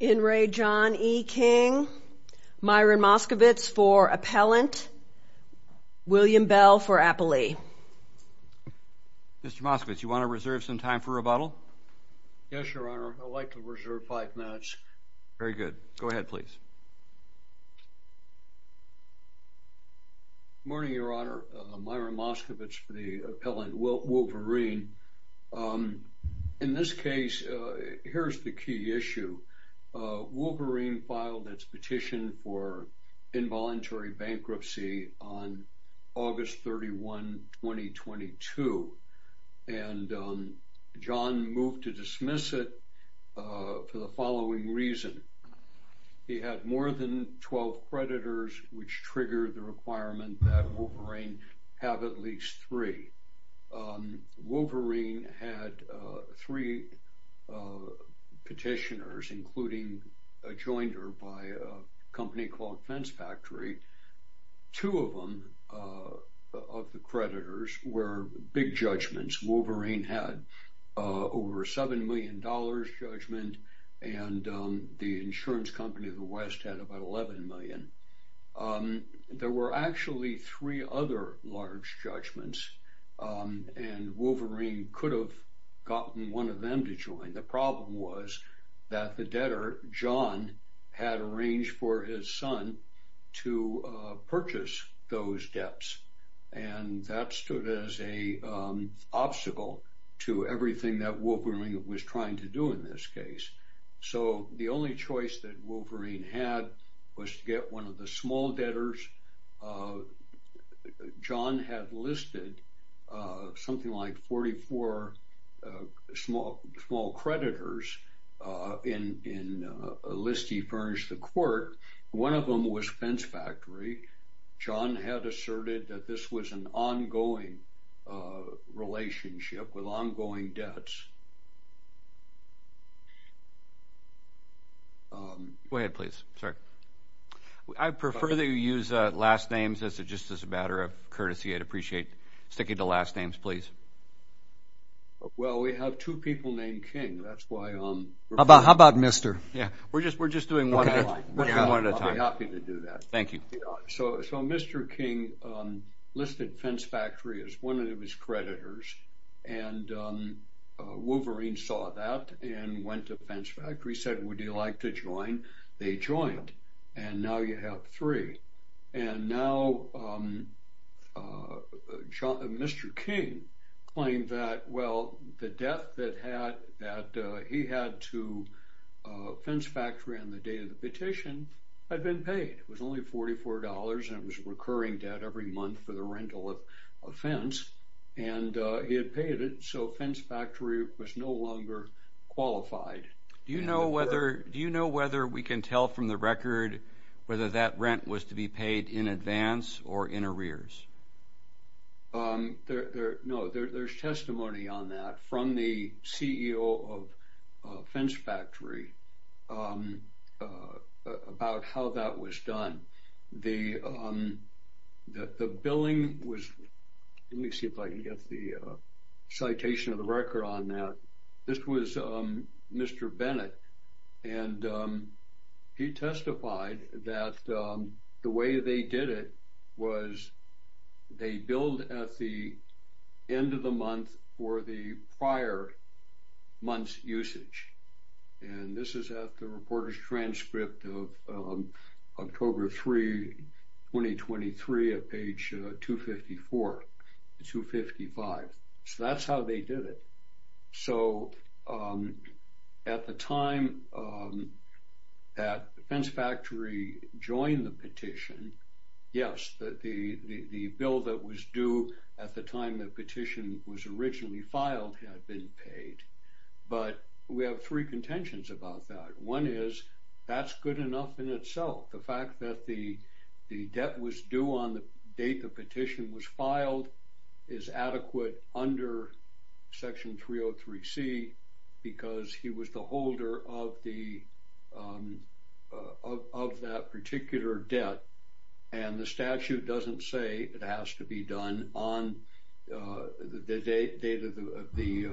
E. King, Myron Moskovitz for appellant, William Bell for appellee. Mr. Moskovitz, you want to reserve some time for rebuttal? Yes, Your Honor. I'd like to reserve five minutes. Very good. Go ahead, please. Good morning, Your Honor. Myron Moskovitz for the appellant, Wolverine. In this case, here's the key issue. Wolverine filed its petition for involuntary bankruptcy on August 31, 2022. And John moved to dismiss it for the following reason. He had more than 12 creditors, which triggered the requirement that Wolverine have at least three. Wolverine had three petitioners, including a jointer by a company called Fence Factory. Two of them, of the creditors, were big judgments. Wolverine had over $7 million judgment, and the insurance company of the West had about $11 million. There were actually three other large judgments, and Wolverine could have gotten one of them to join. The problem was that the debtor, John, had arranged for his son to purchase those debts. And that stood as an obstacle to everything that Wolverine was trying to do in this case. So the only choice that Wolverine had was to get one of the small debtors. John had listed something like 44 small creditors in a list he furnished the court. One of them was Fence Factory. John had asserted that this was an ongoing relationship with ongoing debts. Go ahead, please. I prefer that you use last names just as a matter of courtesy. I'd appreciate sticking to last names, please. Well, we have two people named King. How about Mr.? We're just doing one at a time. I'll be happy to do that. Thank you. So Mr. King listed Fence Factory as one of his creditors, and Wolverine saw that and went to Fence Factory. He said, would you like to join? They joined, and now you have three. And now Mr. King claimed that, well, the debt that he had to Fence Factory on the day of the petition had been paid. It was only $44, and it was recurring debt every month for the rental of a fence. And he had paid it, so Fence Factory was no longer qualified. Do you know whether we can tell from the record whether that rent was to be paid in advance or in arrears? No, there's testimony on that from the CEO of Fence Factory about how that was done. The billing was, let me see if I can get the citation of the record on that. This was Mr. Bennett, and he testified that the way they did it was they billed at the end of the month for the prior month's usage. And this is at the reporter's transcript of October 3, 2023, at page 254, 255. So that's how they did it. So at the time that Fence Factory joined the petition, yes, the bill that was due at the time the petition was originally filed had been paid. But we have three contentions about that. One is that's good enough in itself. The fact that the debt was due on the date the petition was filed is adequate under Section 303C because he was the holder of that particular debt. And the statute doesn't say it has to be done on the date of the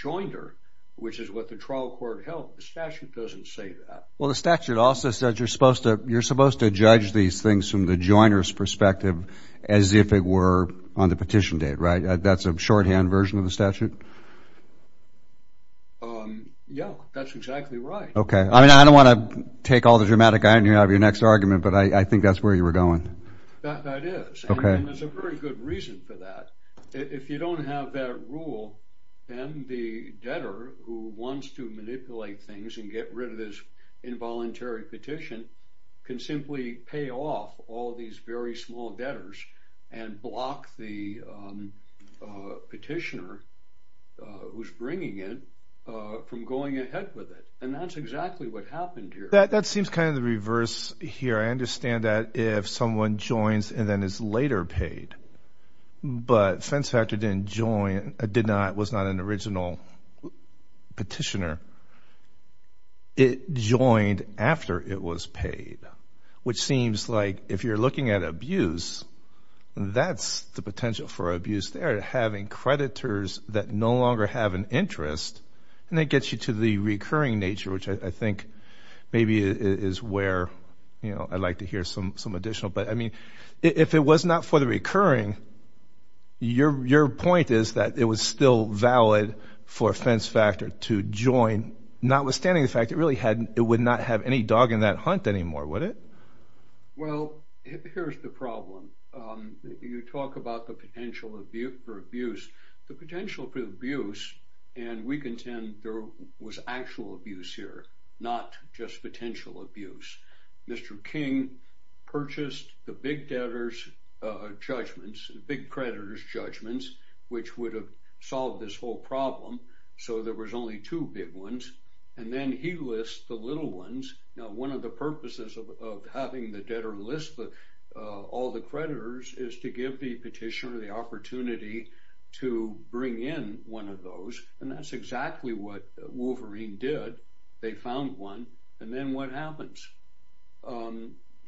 joinder, which is what the trial court held. The statute doesn't say that. Well, the statute also says you're supposed to judge these things from the joiner's perspective as if it were on the petition date, right? That's a shorthand version of the statute? Yeah, that's exactly right. Okay. I mean, I don't want to take all the dramatic irony out of your next argument, but I think that's where you were going. That is. Okay. And there's a very good reason for that. If you don't have that rule, then the debtor who wants to manipulate things and get rid of this involuntary petition can simply pay off all these very small debtors and block the petitioner who's bringing it from going ahead with it. And that's exactly what happened here. That seems kind of the reverse here. I understand that if someone joins and then is later paid, but Fence Factor did not, was not an original petitioner. It joined after it was paid, which seems like if you're looking at abuse, that's the potential for abuse there, having creditors that no longer have an interest. And that gets you to the recurring nature, which I think maybe is where I'd like to hear some additional. But, I mean, if it was not for the recurring, your point is that it was still valid for Fence Factor to join, notwithstanding the fact it would not have any dog in that hunt anymore, would it? Well, here's the problem. You talk about the potential for abuse. The potential for abuse, and we contend there was actual abuse here, not just potential abuse. Mr. King purchased the big debtors judgments, big creditors judgments, which would have solved this whole problem. So there was only two big ones. And then he lists the little ones. Now, one of the purposes of having the debtor list all the creditors is to give the petitioner the opportunity to bring in one of those. And that's exactly what Wolverine did. They found one. And then what happens?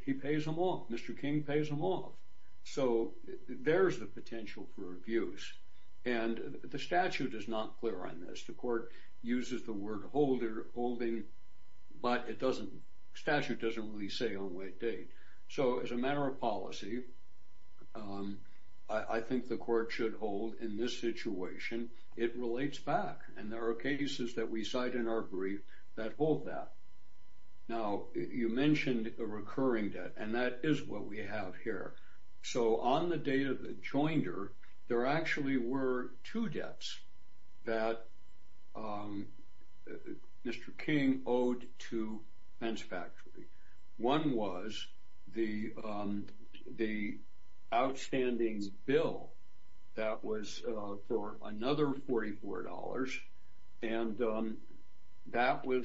He pays them off. Mr. King pays them off. So there's the potential for abuse. And the statute is not clear on this. The court uses the word holding, but it doesn't, statute doesn't really say on what date. So as a matter of policy, I think the court should hold in this situation, it relates back. And there are cases that we cite in our brief that hold that. Now, you mentioned a recurring debt, and that is what we have here. So on the date of the joinder, there actually were two debts that Mr. King owed to Fence Factory. One was the outstanding bill that was for another $44. And that was,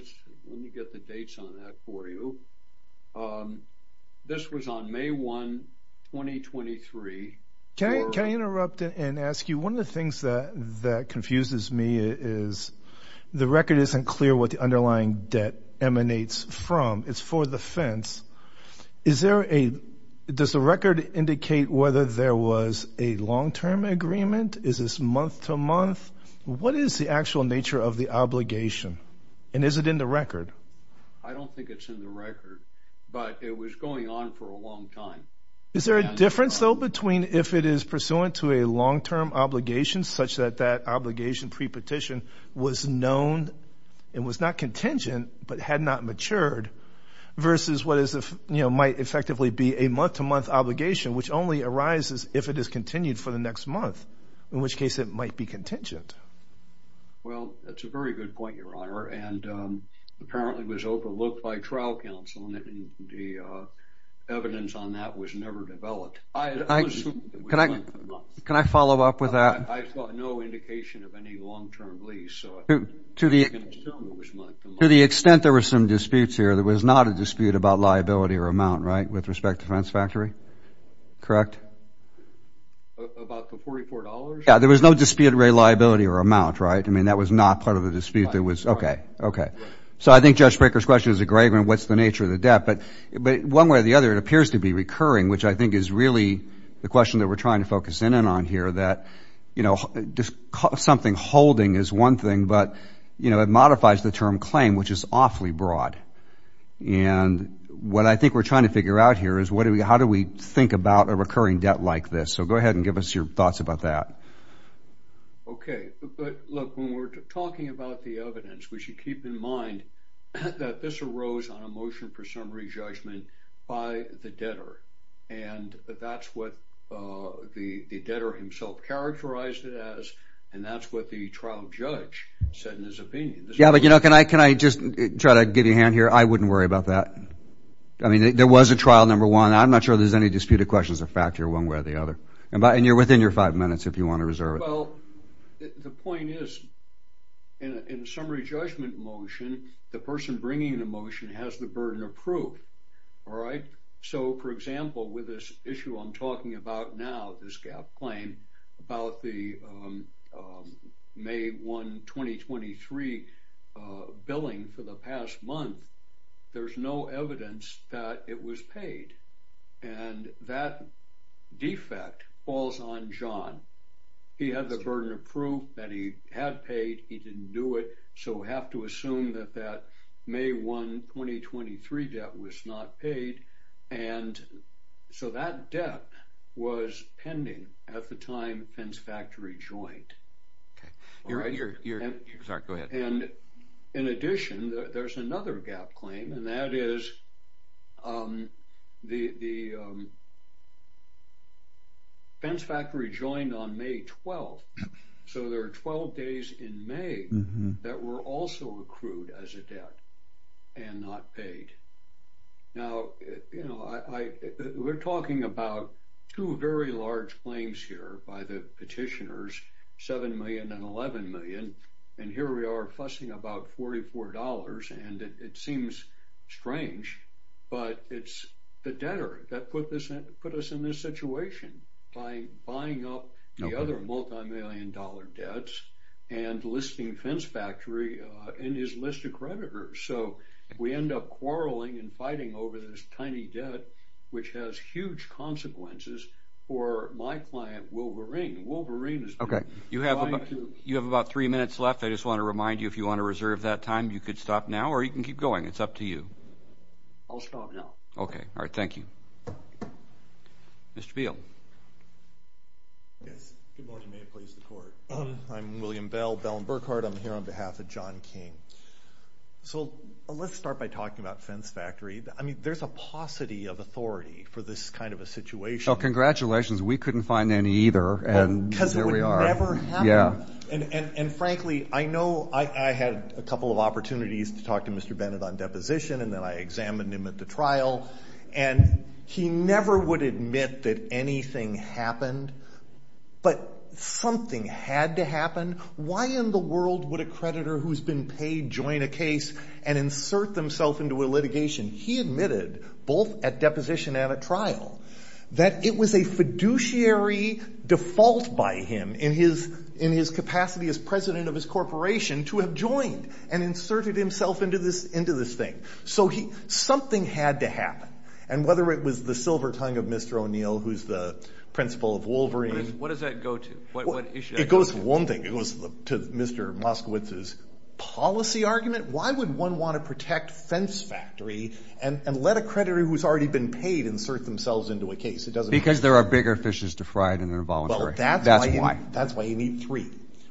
let me get the dates on that for you. This was on May 1, 2023. Can I interrupt and ask you, one of the things that confuses me is the record isn't clear what the underlying debt emanates from. It's for the fence. Is there a, does the record indicate whether there was a long-term agreement? Is this month to month? What is the actual nature of the obligation? And is it in the record? I don't think it's in the record, but it was going on for a long time. Is there a difference, though, between if it is pursuant to a long-term obligation, such that that obligation pre-petition was known and was not contingent but had not matured, versus what might effectively be a month to month obligation, which only arises if it is continued for the next month, in which case it might be contingent. Well, that's a very good point, Your Honor. And apparently it was overlooked by trial counsel, and the evidence on that was never developed. It was month to month. Can I follow up with that? I saw no indication of any long-term lease, so I can assume it was month to month. To the extent there were some disputes here, there was not a dispute about liability or amount, right, with respect to Fence Factory? Correct? About the $44? Yeah, there was no dispute about liability or amount, right? I mean, that was not part of the dispute. Okay, okay. So I think Judge Baker's question is a great one, what's the nature of the debt. But one way or the other, it appears to be recurring, which I think is really the question that we're trying to focus in on here, that something holding is one thing, but, you know, it modifies the term claim, which is awfully broad. And what I think we're trying to figure out here is how do we think about a recurring debt like this? So go ahead and give us your thoughts about that. Okay, but look, when we're talking about the evidence, we should keep in mind that this arose on a motion for summary judgment by the debtor. And that's what the debtor himself characterized it as, and that's what the trial judge said in his opinion. Yeah, but, you know, can I just try to give you a hand here? I wouldn't worry about that. I mean, there was a trial, number one. I'm not sure if there's any disputed questions or fact here one way or the other. And you're within your five minutes if you want to reserve it. Well, the point is, in a summary judgment motion, the person bringing the motion has the burden of proof. All right. So, for example, with this issue I'm talking about now, this gap claim, about the May 1, 2023 billing for the past month, there's no evidence that it was paid. And that defect falls on John. He had the burden of proof that he had paid. He didn't do it. So we have to assume that that May 1, 2023 debt was not paid. And so that debt was pending at the time Fence Factory joined. Okay. Sorry, go ahead. And in addition, there's another gap claim, and that is the Fence Factory joined on May 12. So there are 12 days in May that were also accrued as a debt and not paid. Now, you know, we're talking about two very large claims here by the petitioners, $7 million and $11 million. And here we are fussing about $44. And it seems strange, but it's the debtor that put us in this situation, buying up the other multimillion-dollar debts and listing Fence Factory in his list of creditors. So we end up quarreling and fighting over this tiny debt, which has huge consequences for my client, Wolverine. Wolverine has been trying to— You have about three minutes left. I just want to remind you, if you want to reserve that time, you could stop now or you can keep going. It's up to you. I'll stop now. Okay. All right. Thank you. Mr. Beal. Yes. Good morning. May it please the Court. I'm William Bell, Bell and Burkhardt. I'm here on behalf of John King. So let's start by talking about Fence Factory. I mean, there's a paucity of authority for this kind of a situation. Well, congratulations. We couldn't find any either, and here we are. Because it would never happen. Yeah. And, frankly, I know I had a couple of opportunities to talk to Mr. Bennett on deposition, and then I examined him at the trial, and he never would admit that anything happened. But something had to happen. Why in the world would a creditor who's been paid join a case and insert themselves into a litigation? He admitted, both at deposition and at trial, that it was a fiduciary default by him, in his capacity as president of his corporation, to have joined and inserted himself into this thing. So something had to happen. And whether it was the silver tongue of Mr. O'Neill, who's the principal of Wolverine. What does that go to? It goes to one thing. It goes to Mr. Moskowitz's policy argument. Why would one want to protect Fence Factory and let a creditor who's already been paid insert themselves into a case? It doesn't make sense. Because there are bigger fishes to fry than involuntary. That's why. That's why you need three.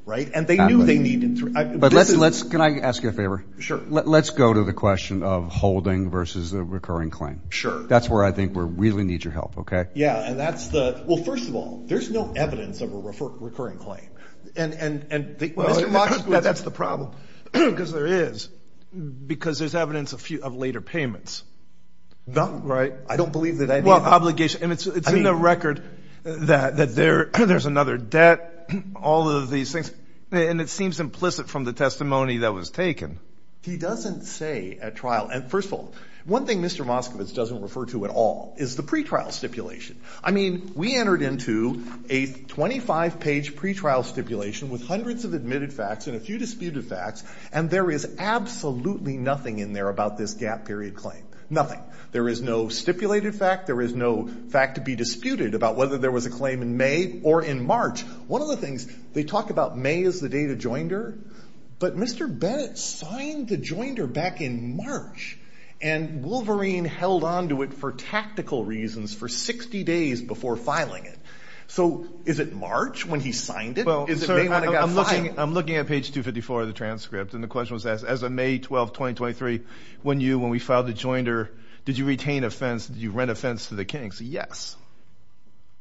Right? And they knew they needed three. But let's, can I ask you a favor? Sure. Let's go to the question of holding versus a recurring claim. That's where I think we really need your help, okay? Yeah, and that's the, well, first of all, there's no evidence of a recurring claim. And Mr. Moskowitz. That's the problem. Because there is. Because there's evidence of later payments. Right. I don't believe that any of them. Well, obligation. And it's in the record that there's another debt, all of these things. And it seems implicit from the testimony that was taken. He doesn't say at trial. And, first of all, one thing Mr. Moskowitz doesn't refer to at all is the pretrial stipulation. I mean, we entered into a 25-page pretrial stipulation with hundreds of admitted facts and a few disputed facts. And there is absolutely nothing in there about this gap period claim. Nothing. There is no stipulated fact. There is no fact to be disputed about whether there was a claim in May or in March. One of the things, they talk about May as the date of joinder. But Mr. Bennett signed the joinder back in March. And Wolverine held on to it for tactical reasons for 60 days before filing it. So, is it March when he signed it? Is it May when it got filed? I'm looking at page 254 of the transcript. And the question was asked, as of May 12, 2023, when we filed the joinder, did you retain a fence? Did you rent a fence to the Kings? Yes.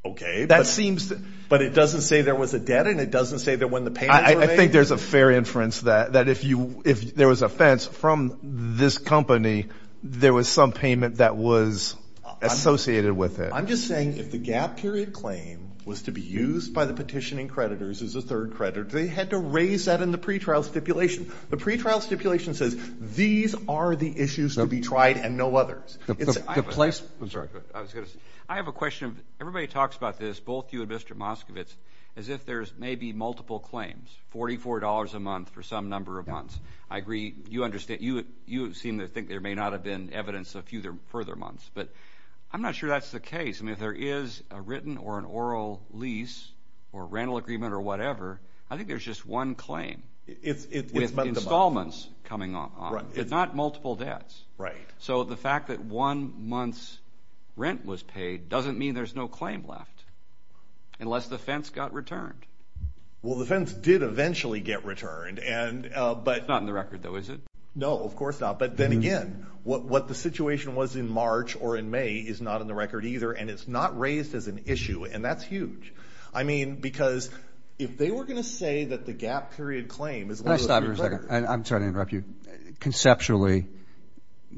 Okay. But it doesn't say there was a debt. And it doesn't say that when the payments were made. I think there's a fair inference that if there was a fence from this company, there was some payment that was associated with it. I'm just saying if the gap period claim was to be used by the petitioning creditors as a third credit, they had to raise that in the pretrial stipulation. The pretrial stipulation says these are the issues to be tried and no others. I have a question. Everybody talks about this, both you and Mr. Moskovitz, as if there's maybe multiple claims, $44 a month for some number of months. I agree. You seem to think there may not have been evidence a few further months. But I'm not sure that's the case. I mean, if there is a written or an oral lease or rental agreement or whatever, I think there's just one claim. With installments coming on, but not multiple debts. Right. So the fact that one month's rent was paid doesn't mean there's no claim left, unless the fence got returned. Well, the fence did eventually get returned. It's not in the record, though, is it? No, of course not. But then again, what the situation was in March or in May is not in the record either, and it's not raised as an issue. And that's huge. I mean, because if they were going to say that the gap period claim is one of the three records. Can I stop you for a second? I'm sorry to interrupt you. Conceptually,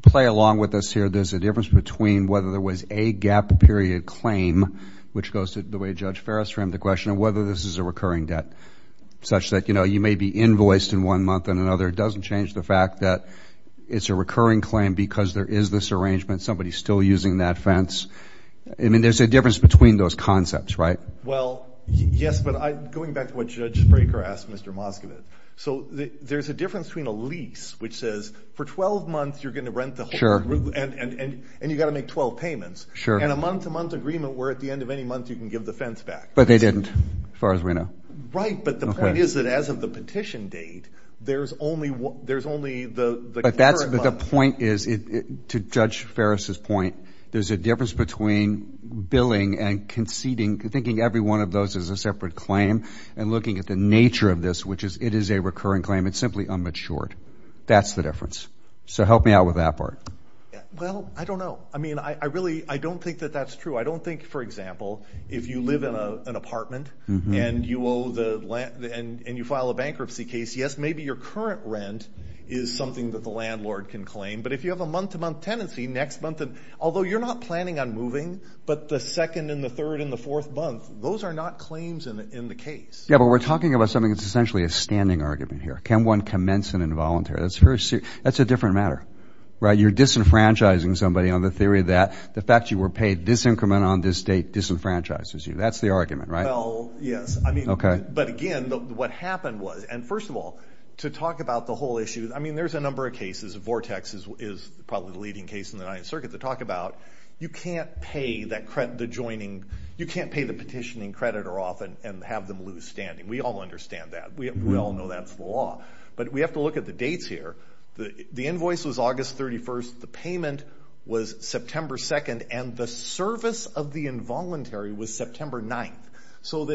play along with us here. There's a difference between whether there was a gap period claim, which goes to the way Judge Farris framed the question, and whether this is a recurring debt, such that, you know, you may be invoiced in one month and another. It doesn't change the fact that it's a recurring claim because there is this arrangement. Somebody's still using that fence. I mean, there's a difference between those concepts, right? Well, yes, but going back to what Judge Fraker asked Mr. Moskowitz. So there's a difference between a lease, which says for 12 months you're going to rent the whole group. And you've got to make 12 payments. Sure. And a month-to-month agreement where at the end of any month you can give the fence back. But they didn't, as far as we know. Right, but the point is that as of the petition date, there's only the current month. But the point is, to Judge Farris's point, there's a difference between billing and conceding, thinking every one of those is a separate claim and looking at the nature of this, which is it is a recurring claim. It's simply unmatured. That's the difference. So help me out with that part. Well, I don't know. I mean, I really don't think that that's true. I don't think, for example, if you live in an apartment and you file a bankruptcy case, yes, maybe your current rent is something that the landlord can claim. But if you have a month-to-month tenancy, next month, although you're not planning on moving, but the second and the third and the fourth month, those are not claims in the case. Yeah, but we're talking about something that's essentially a standing argument here. Can one commence an involuntary? That's a different matter, right? You're disenfranchising somebody on the theory that the fact you were paid this increment on this date disenfranchises you. That's the argument, right? Well, yes. Okay. But, again, what happened was, and first of all, to talk about the whole issue, I mean, there's a number of cases. Vortex is probably the leading case in the Ninth Circuit to talk about. You can't pay the petitioning creditor off and have them lose standing. We all understand that. We all know that's the law. But we have to look at the dates here. The invoice was August 31st. The payment was September 2nd. And the service of the involuntary was September 9th. So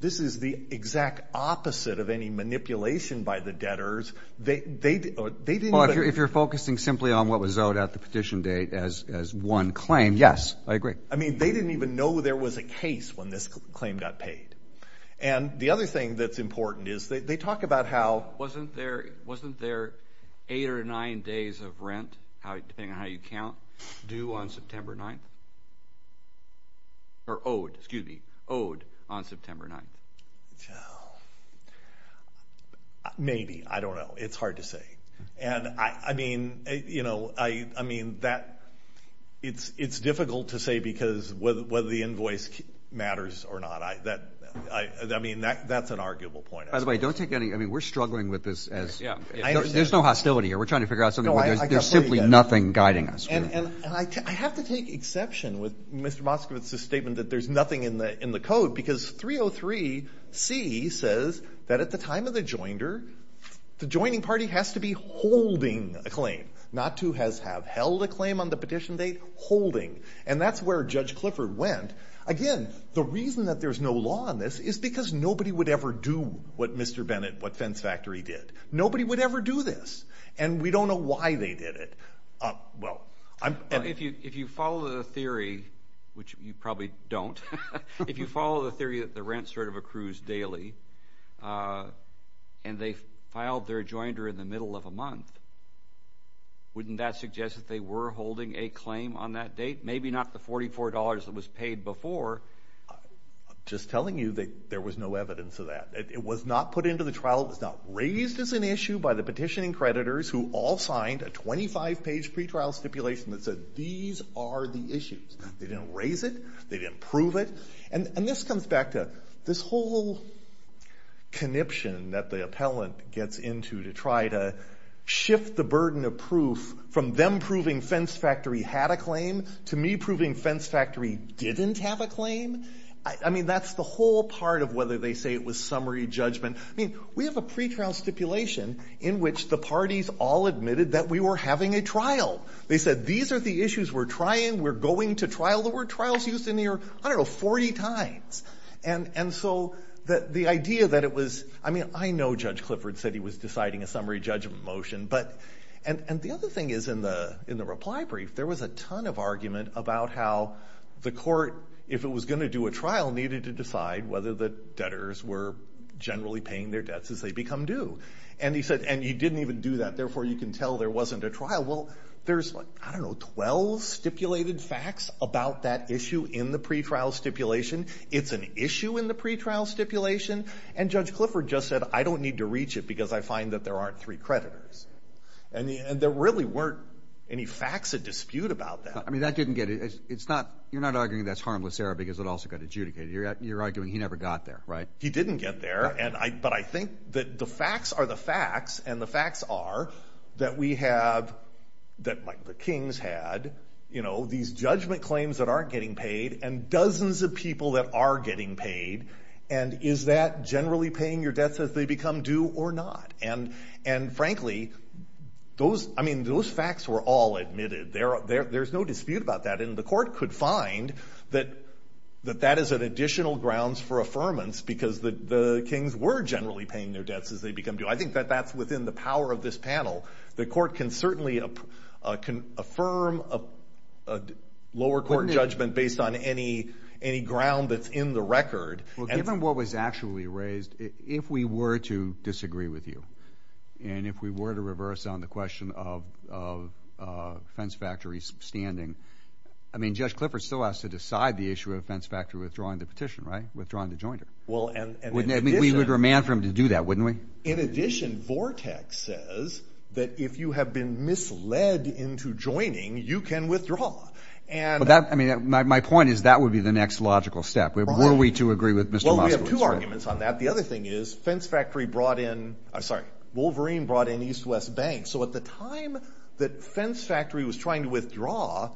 this is the exact opposite of any manipulation by the debtors. Well, if you're focusing simply on what was owed at the petition date as one claim, yes, I agree. I mean, they didn't even know there was a case when this claim got paid. And the other thing that's important is they talk about how... Wasn't there eight or nine days of rent, depending on how you count, due on September 9th? Or owed, excuse me, owed on September 9th? Maybe. I don't know. It's hard to say. And, I mean, you know, I mean, that... It's difficult to say because whether the invoice matters or not. I mean, that's an arguable point. By the way, don't take any... I mean, we're struggling with this as... There's no hostility here. We're trying to figure out something. There's simply nothing guiding us here. And I have to take exception with Mr. Moskowitz's statement that there's nothing in the code because 303C says that at the time of the joinder, the joining party has to be holding a claim. Not to have held a claim on the petition date. Holding. And that's where Judge Clifford went. Again, the reason that there's no law on this is because nobody would ever do what Mr. Bennett, what Fence Factory did. Nobody would ever do this. And we don't know why they did it. Well, I'm... If you follow the theory, which you probably don't. If you follow the theory that the rent sort of accrues daily and they filed their joinder in the middle of a month, wouldn't that suggest that they were holding a claim on that date? Maybe not the $44 that was paid before. I'm just telling you that there was no evidence of that. It was not put into the trial. It was not raised as an issue by the petitioning creditors who all signed a 25-page pretrial stipulation that said these are the issues. They didn't raise it. They didn't prove it. And this comes back to this whole conniption that the appellant gets into to try to shift the burden of proof from them proving Fence Factory had a claim to me proving Fence Factory didn't have a claim. I mean, that's the whole part of whether they say it was summary judgment. I mean, we have a pretrial stipulation in which the parties all admitted that we were having a trial. They said these are the issues we're trying, we're going to trial. There were trials used in there, I don't know, 40 times. And so the idea that it was, I mean, I know Judge Clifford said he was deciding a summary judgment motion. And the other thing is in the reply brief there was a ton of argument about how the court, if it was going to do a trial, needed to decide whether the debtors were generally paying their debts as they become due. And he said, and you didn't even do that, therefore you can tell there wasn't a trial. Well, there's, I don't know, 12 stipulated facts about that issue in the pretrial stipulation. It's an issue in the pretrial stipulation. And Judge Clifford just said I don't need to reach it because I find that there aren't three creditors. And there really weren't any facts of dispute about that. I mean, that didn't get it. It's not, you're not arguing that's harmless error because it also got adjudicated. You're arguing he never got there, right? He didn't get there. But I think that the facts are the facts, and the facts are that we have, that the kings had, you know, these judgment claims that aren't getting paid and dozens of people that are getting paid. And is that generally paying your debts as they become due or not? And, frankly, those, I mean, those facts were all admitted. There's no dispute about that. And the court could find that that is an additional grounds for affirmance because the kings were generally paying their debts as they become due. I think that that's within the power of this panel. The court can certainly affirm a lower court judgment based on any ground that's in the record. Well, given what was actually raised, if we were to disagree with you, and if we were to reverse on the question of Fence Factory's standing, I mean, Judge Clifford still has to decide the issue of Fence Factory withdrawing the petition, right? Withdrawing the jointer. Well, and in addition. We would demand for him to do that, wouldn't we? In addition, Vortex says that if you have been misled into joining, you can withdraw. But that, I mean, my point is that would be the next logical step. Were we to agree with Mr. Moskowitz? Well, we have two arguments on that. The other thing is Fence Factory brought in, I'm sorry, Wolverine brought in East West Bank. So at the time that Fence Factory was trying to withdraw,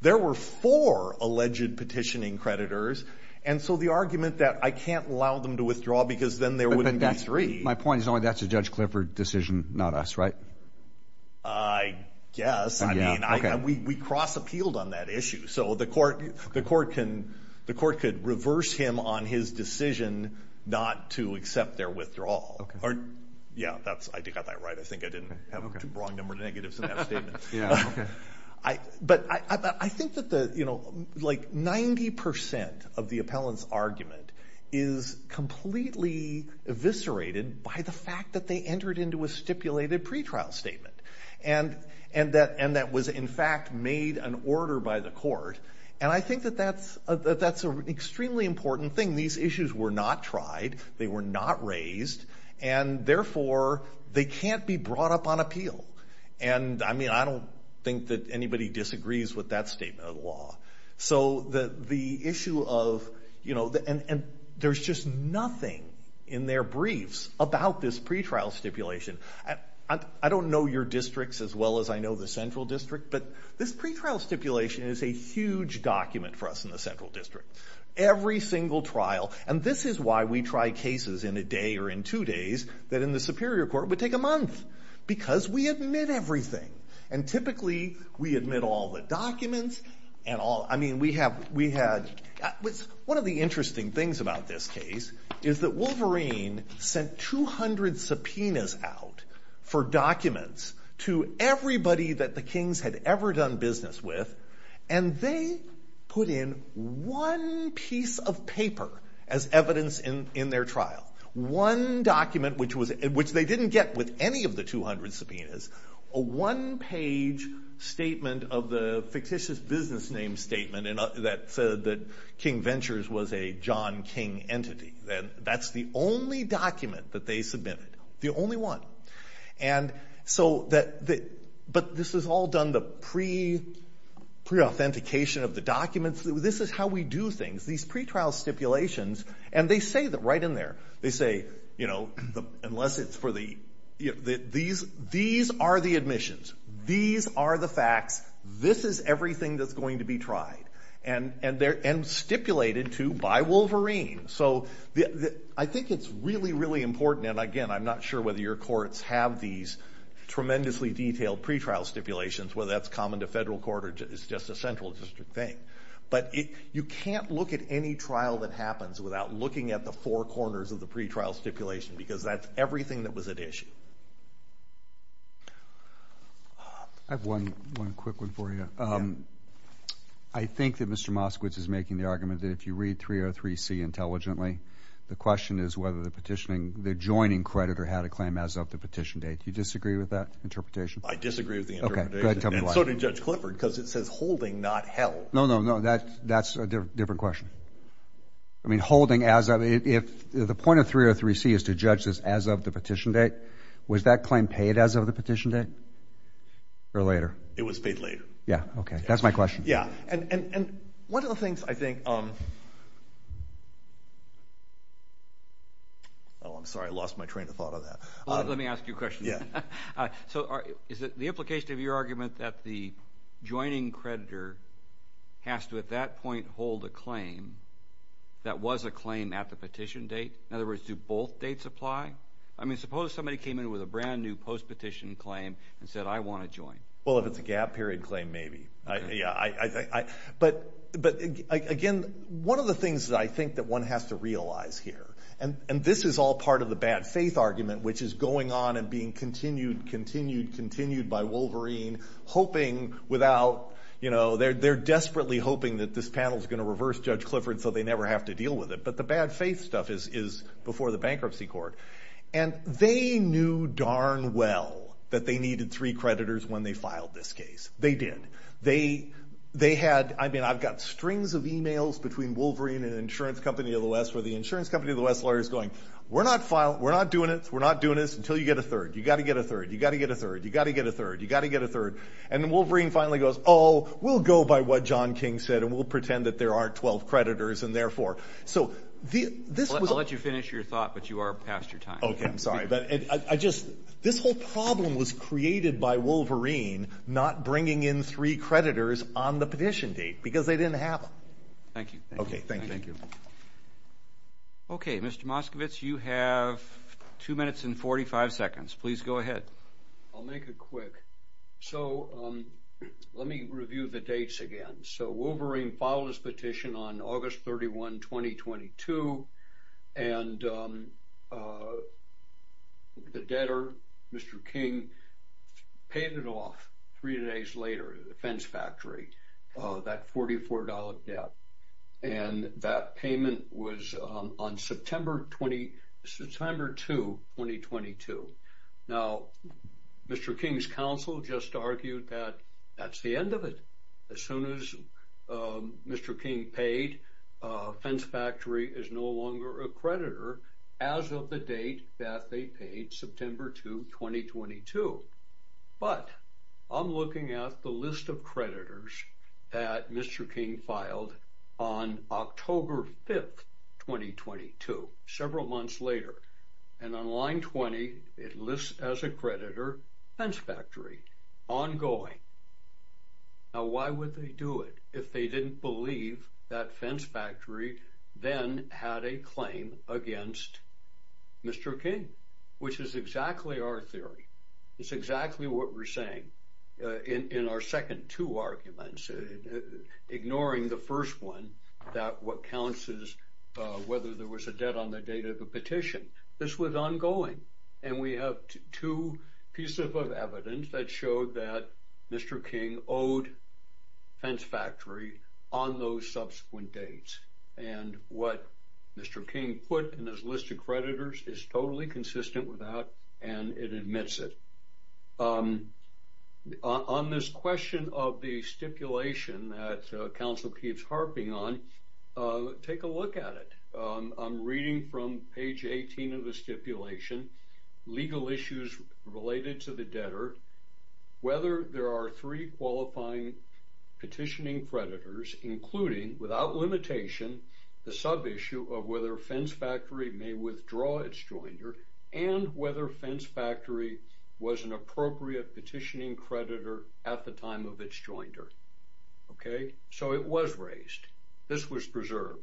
there were four alleged petitioning creditors. And so the argument that I can't allow them to withdraw because then there wouldn't be three. My point is only that's a Judge Clifford decision, not us, right? I guess. I mean, we cross-appealed on that issue. So the court could reverse him on his decision not to accept their withdrawal. Yeah, I got that right. I think I didn't have the wrong number of negatives in that statement. But I think that, you know, like 90% of the appellant's argument is completely eviscerated by the fact that they entered into a stipulated pretrial statement. And that was, in fact, made an order by the court. And I think that that's an extremely important thing. These issues were not tried. They were not raised. And, therefore, they can't be brought up on appeal. And, I mean, I don't think that anybody disagrees with that statement of the law. So the issue of, you know, and there's just nothing in their briefs about this pretrial stipulation. I don't know your districts as well as I know the Central District. But this pretrial stipulation is a huge document for us in the Central District. Every single trial. And this is why we try cases in a day or in two days that in the Superior Court would take a month. Because we admit everything. And, typically, we admit all the documents. I mean, we had, one of the interesting things about this case is that Wolverine sent 200 subpoenas out for documents to everybody that the Kings had ever done business with. And they put in one piece of paper as evidence in their trial. One document, which they didn't get with any of the 200 subpoenas. A one-page statement of the fictitious business name statement that said that King Ventures was a John King entity. And that's the only document that they submitted. The only one. And so, but this is all done the pre-authentication of the documents. This is how we do things. These pretrial stipulations, and they say that right in there. They say, you know, unless it's for the, these are the admissions. These are the facts. This is everything that's going to be tried. And stipulated to by Wolverine. So, I think it's really, really important. And, again, I'm not sure whether your courts have these tremendously detailed pretrial stipulations, whether that's common to federal court or just a Central District thing. But you can't look at any trial that happens without looking at the four corners of the pretrial stipulation. Because that's everything that was at issue. I have one quick one for you. I think that Mr. Moskowitz is making the argument that if you read 303C intelligently, the question is whether the petitioning, the joining creditor had a claim as of the petition date. Do you disagree with that interpretation? I disagree with the interpretation. And so did Judge Clifford, because it says holding, not held. No, no, no. That's a different question. I mean holding as of, if the point of 303C is to judge this as of the petition date, was that claim paid as of the petition date or later? It was paid later. Yeah. Okay. That's my question. And one of the things I think, oh, I'm sorry. I lost my train of thought on that. Let me ask you a question. Yeah. So is it the implication of your argument that the joining creditor has to at that point hold a claim that was a claim at the petition date? In other words, do both dates apply? I mean suppose somebody came in with a brand-new post-petition claim and said, I want to join. Well, if it's a gap period claim, maybe. But, again, one of the things that I think that one has to realize here, and this is all part of the bad faith argument, which is going on and being continued, continued, continued by Wolverine, hoping without, you know, they're desperately hoping that this panel is going to reverse Judge Clifford so they never have to deal with it. But the bad faith stuff is before the bankruptcy court. And they knew darn well that they needed three creditors when they filed this case. They did. They had, I mean I've got strings of emails between Wolverine and an insurance company of the West where the insurance company of the West lawyer is going, we're not doing this, we're not doing this until you get a third. You've got to get a third. You've got to get a third. You've got to get a third. You've got to get a third. And Wolverine finally goes, oh, we'll go by what John King said and we'll pretend that there aren't 12 creditors and therefore. I'll let you finish your thought, but you are past your time. Okay. I'm sorry. This whole problem was created by Wolverine not bringing in three creditors on the petition date because they didn't have them. Thank you. Okay. Thank you. Okay. Mr. Moskovitz, you have two minutes and 45 seconds. Please go ahead. I'll make it quick. So let me review the dates again. So Wolverine filed his petition on August 31, 2022, and the debtor, Mr. King, paid it off three days later at the fence factory, that $44 debt. And that payment was on September 2, 2022. Now, Mr. King's counsel just argued that that's the end of it. As soon as Mr. King paid, fence factory is no longer a creditor as of the date that they paid, September 2, 2022. But I'm looking at the list of creditors that Mr. King filed on October 5, 2022, several months later. And on line 20, it lists as a creditor, fence factory, ongoing. Now, why would they do it if they didn't believe that fence factory then had a claim against Mr. King, which is exactly our theory. It's exactly what we're saying in our second two arguments, ignoring the first one, that what counts is whether there was a debt on the date of the petition. This was ongoing. And we have two pieces of evidence that showed that Mr. King owed fence factory on those subsequent dates. And what Mr. King put in his list of creditors is totally consistent with that, and it admits it. On this question of the stipulation that counsel keeps harping on, take a look at it. I'm reading from page 18 of the stipulation, legal issues related to the debtor, whether there are three qualifying petitioning creditors, including, without limitation, the sub-issue of whether fence factory may withdraw its joinder, and whether fence factory was an appropriate petitioning creditor at the time of its joinder. Okay, so it was raised. This was preserved.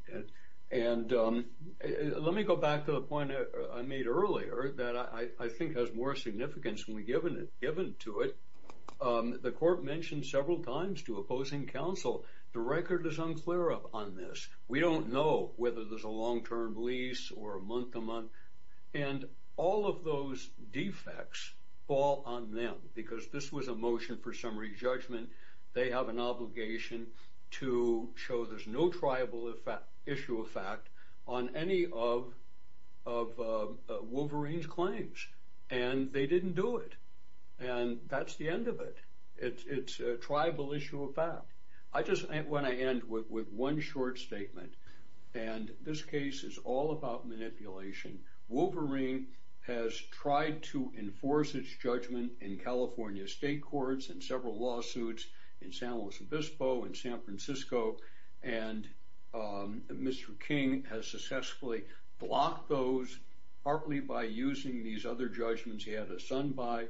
And let me go back to the point I made earlier that I think has more significance when we give into it. The court mentioned several times to opposing counsel, the record is unclear on this. We don't know whether there's a long-term lease or a month-to-month. And all of those defects fall on them, because this was a motion for summary judgment. They have an obligation to show there's no tribal issue of fact on any of Wolverine's claims. And they didn't do it. And that's the end of it. It's a tribal issue of fact. I just want to end with one short statement, and this case is all about manipulation. Wolverine has tried to enforce its judgment in California state courts in several lawsuits, in San Luis Obispo, in San Francisco. And Mr. King has successfully blocked those, partly by using these other judgments he had his son buy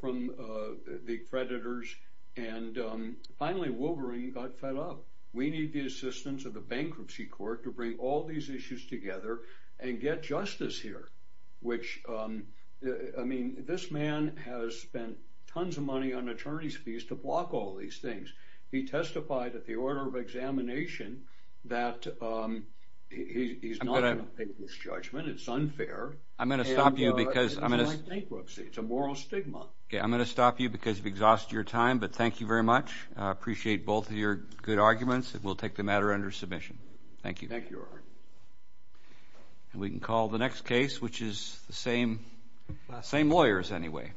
from the creditors. And finally, Wolverine got fed up. We need the assistance of the bankruptcy court to bring all these issues together and get justice here, which, I mean, this man has spent tons of money on attorney's fees to block all these things. He testified at the order of examination that he's not going to take this judgment. It's unfair. And this is like bankruptcy. It's a moral stigma. I'm going to stop you because you've exhausted your time, but thank you very much. I appreciate both of your good arguments, and we'll take the matter under submission. Thank you. And we can call the next case, which is the same lawyers, anyway.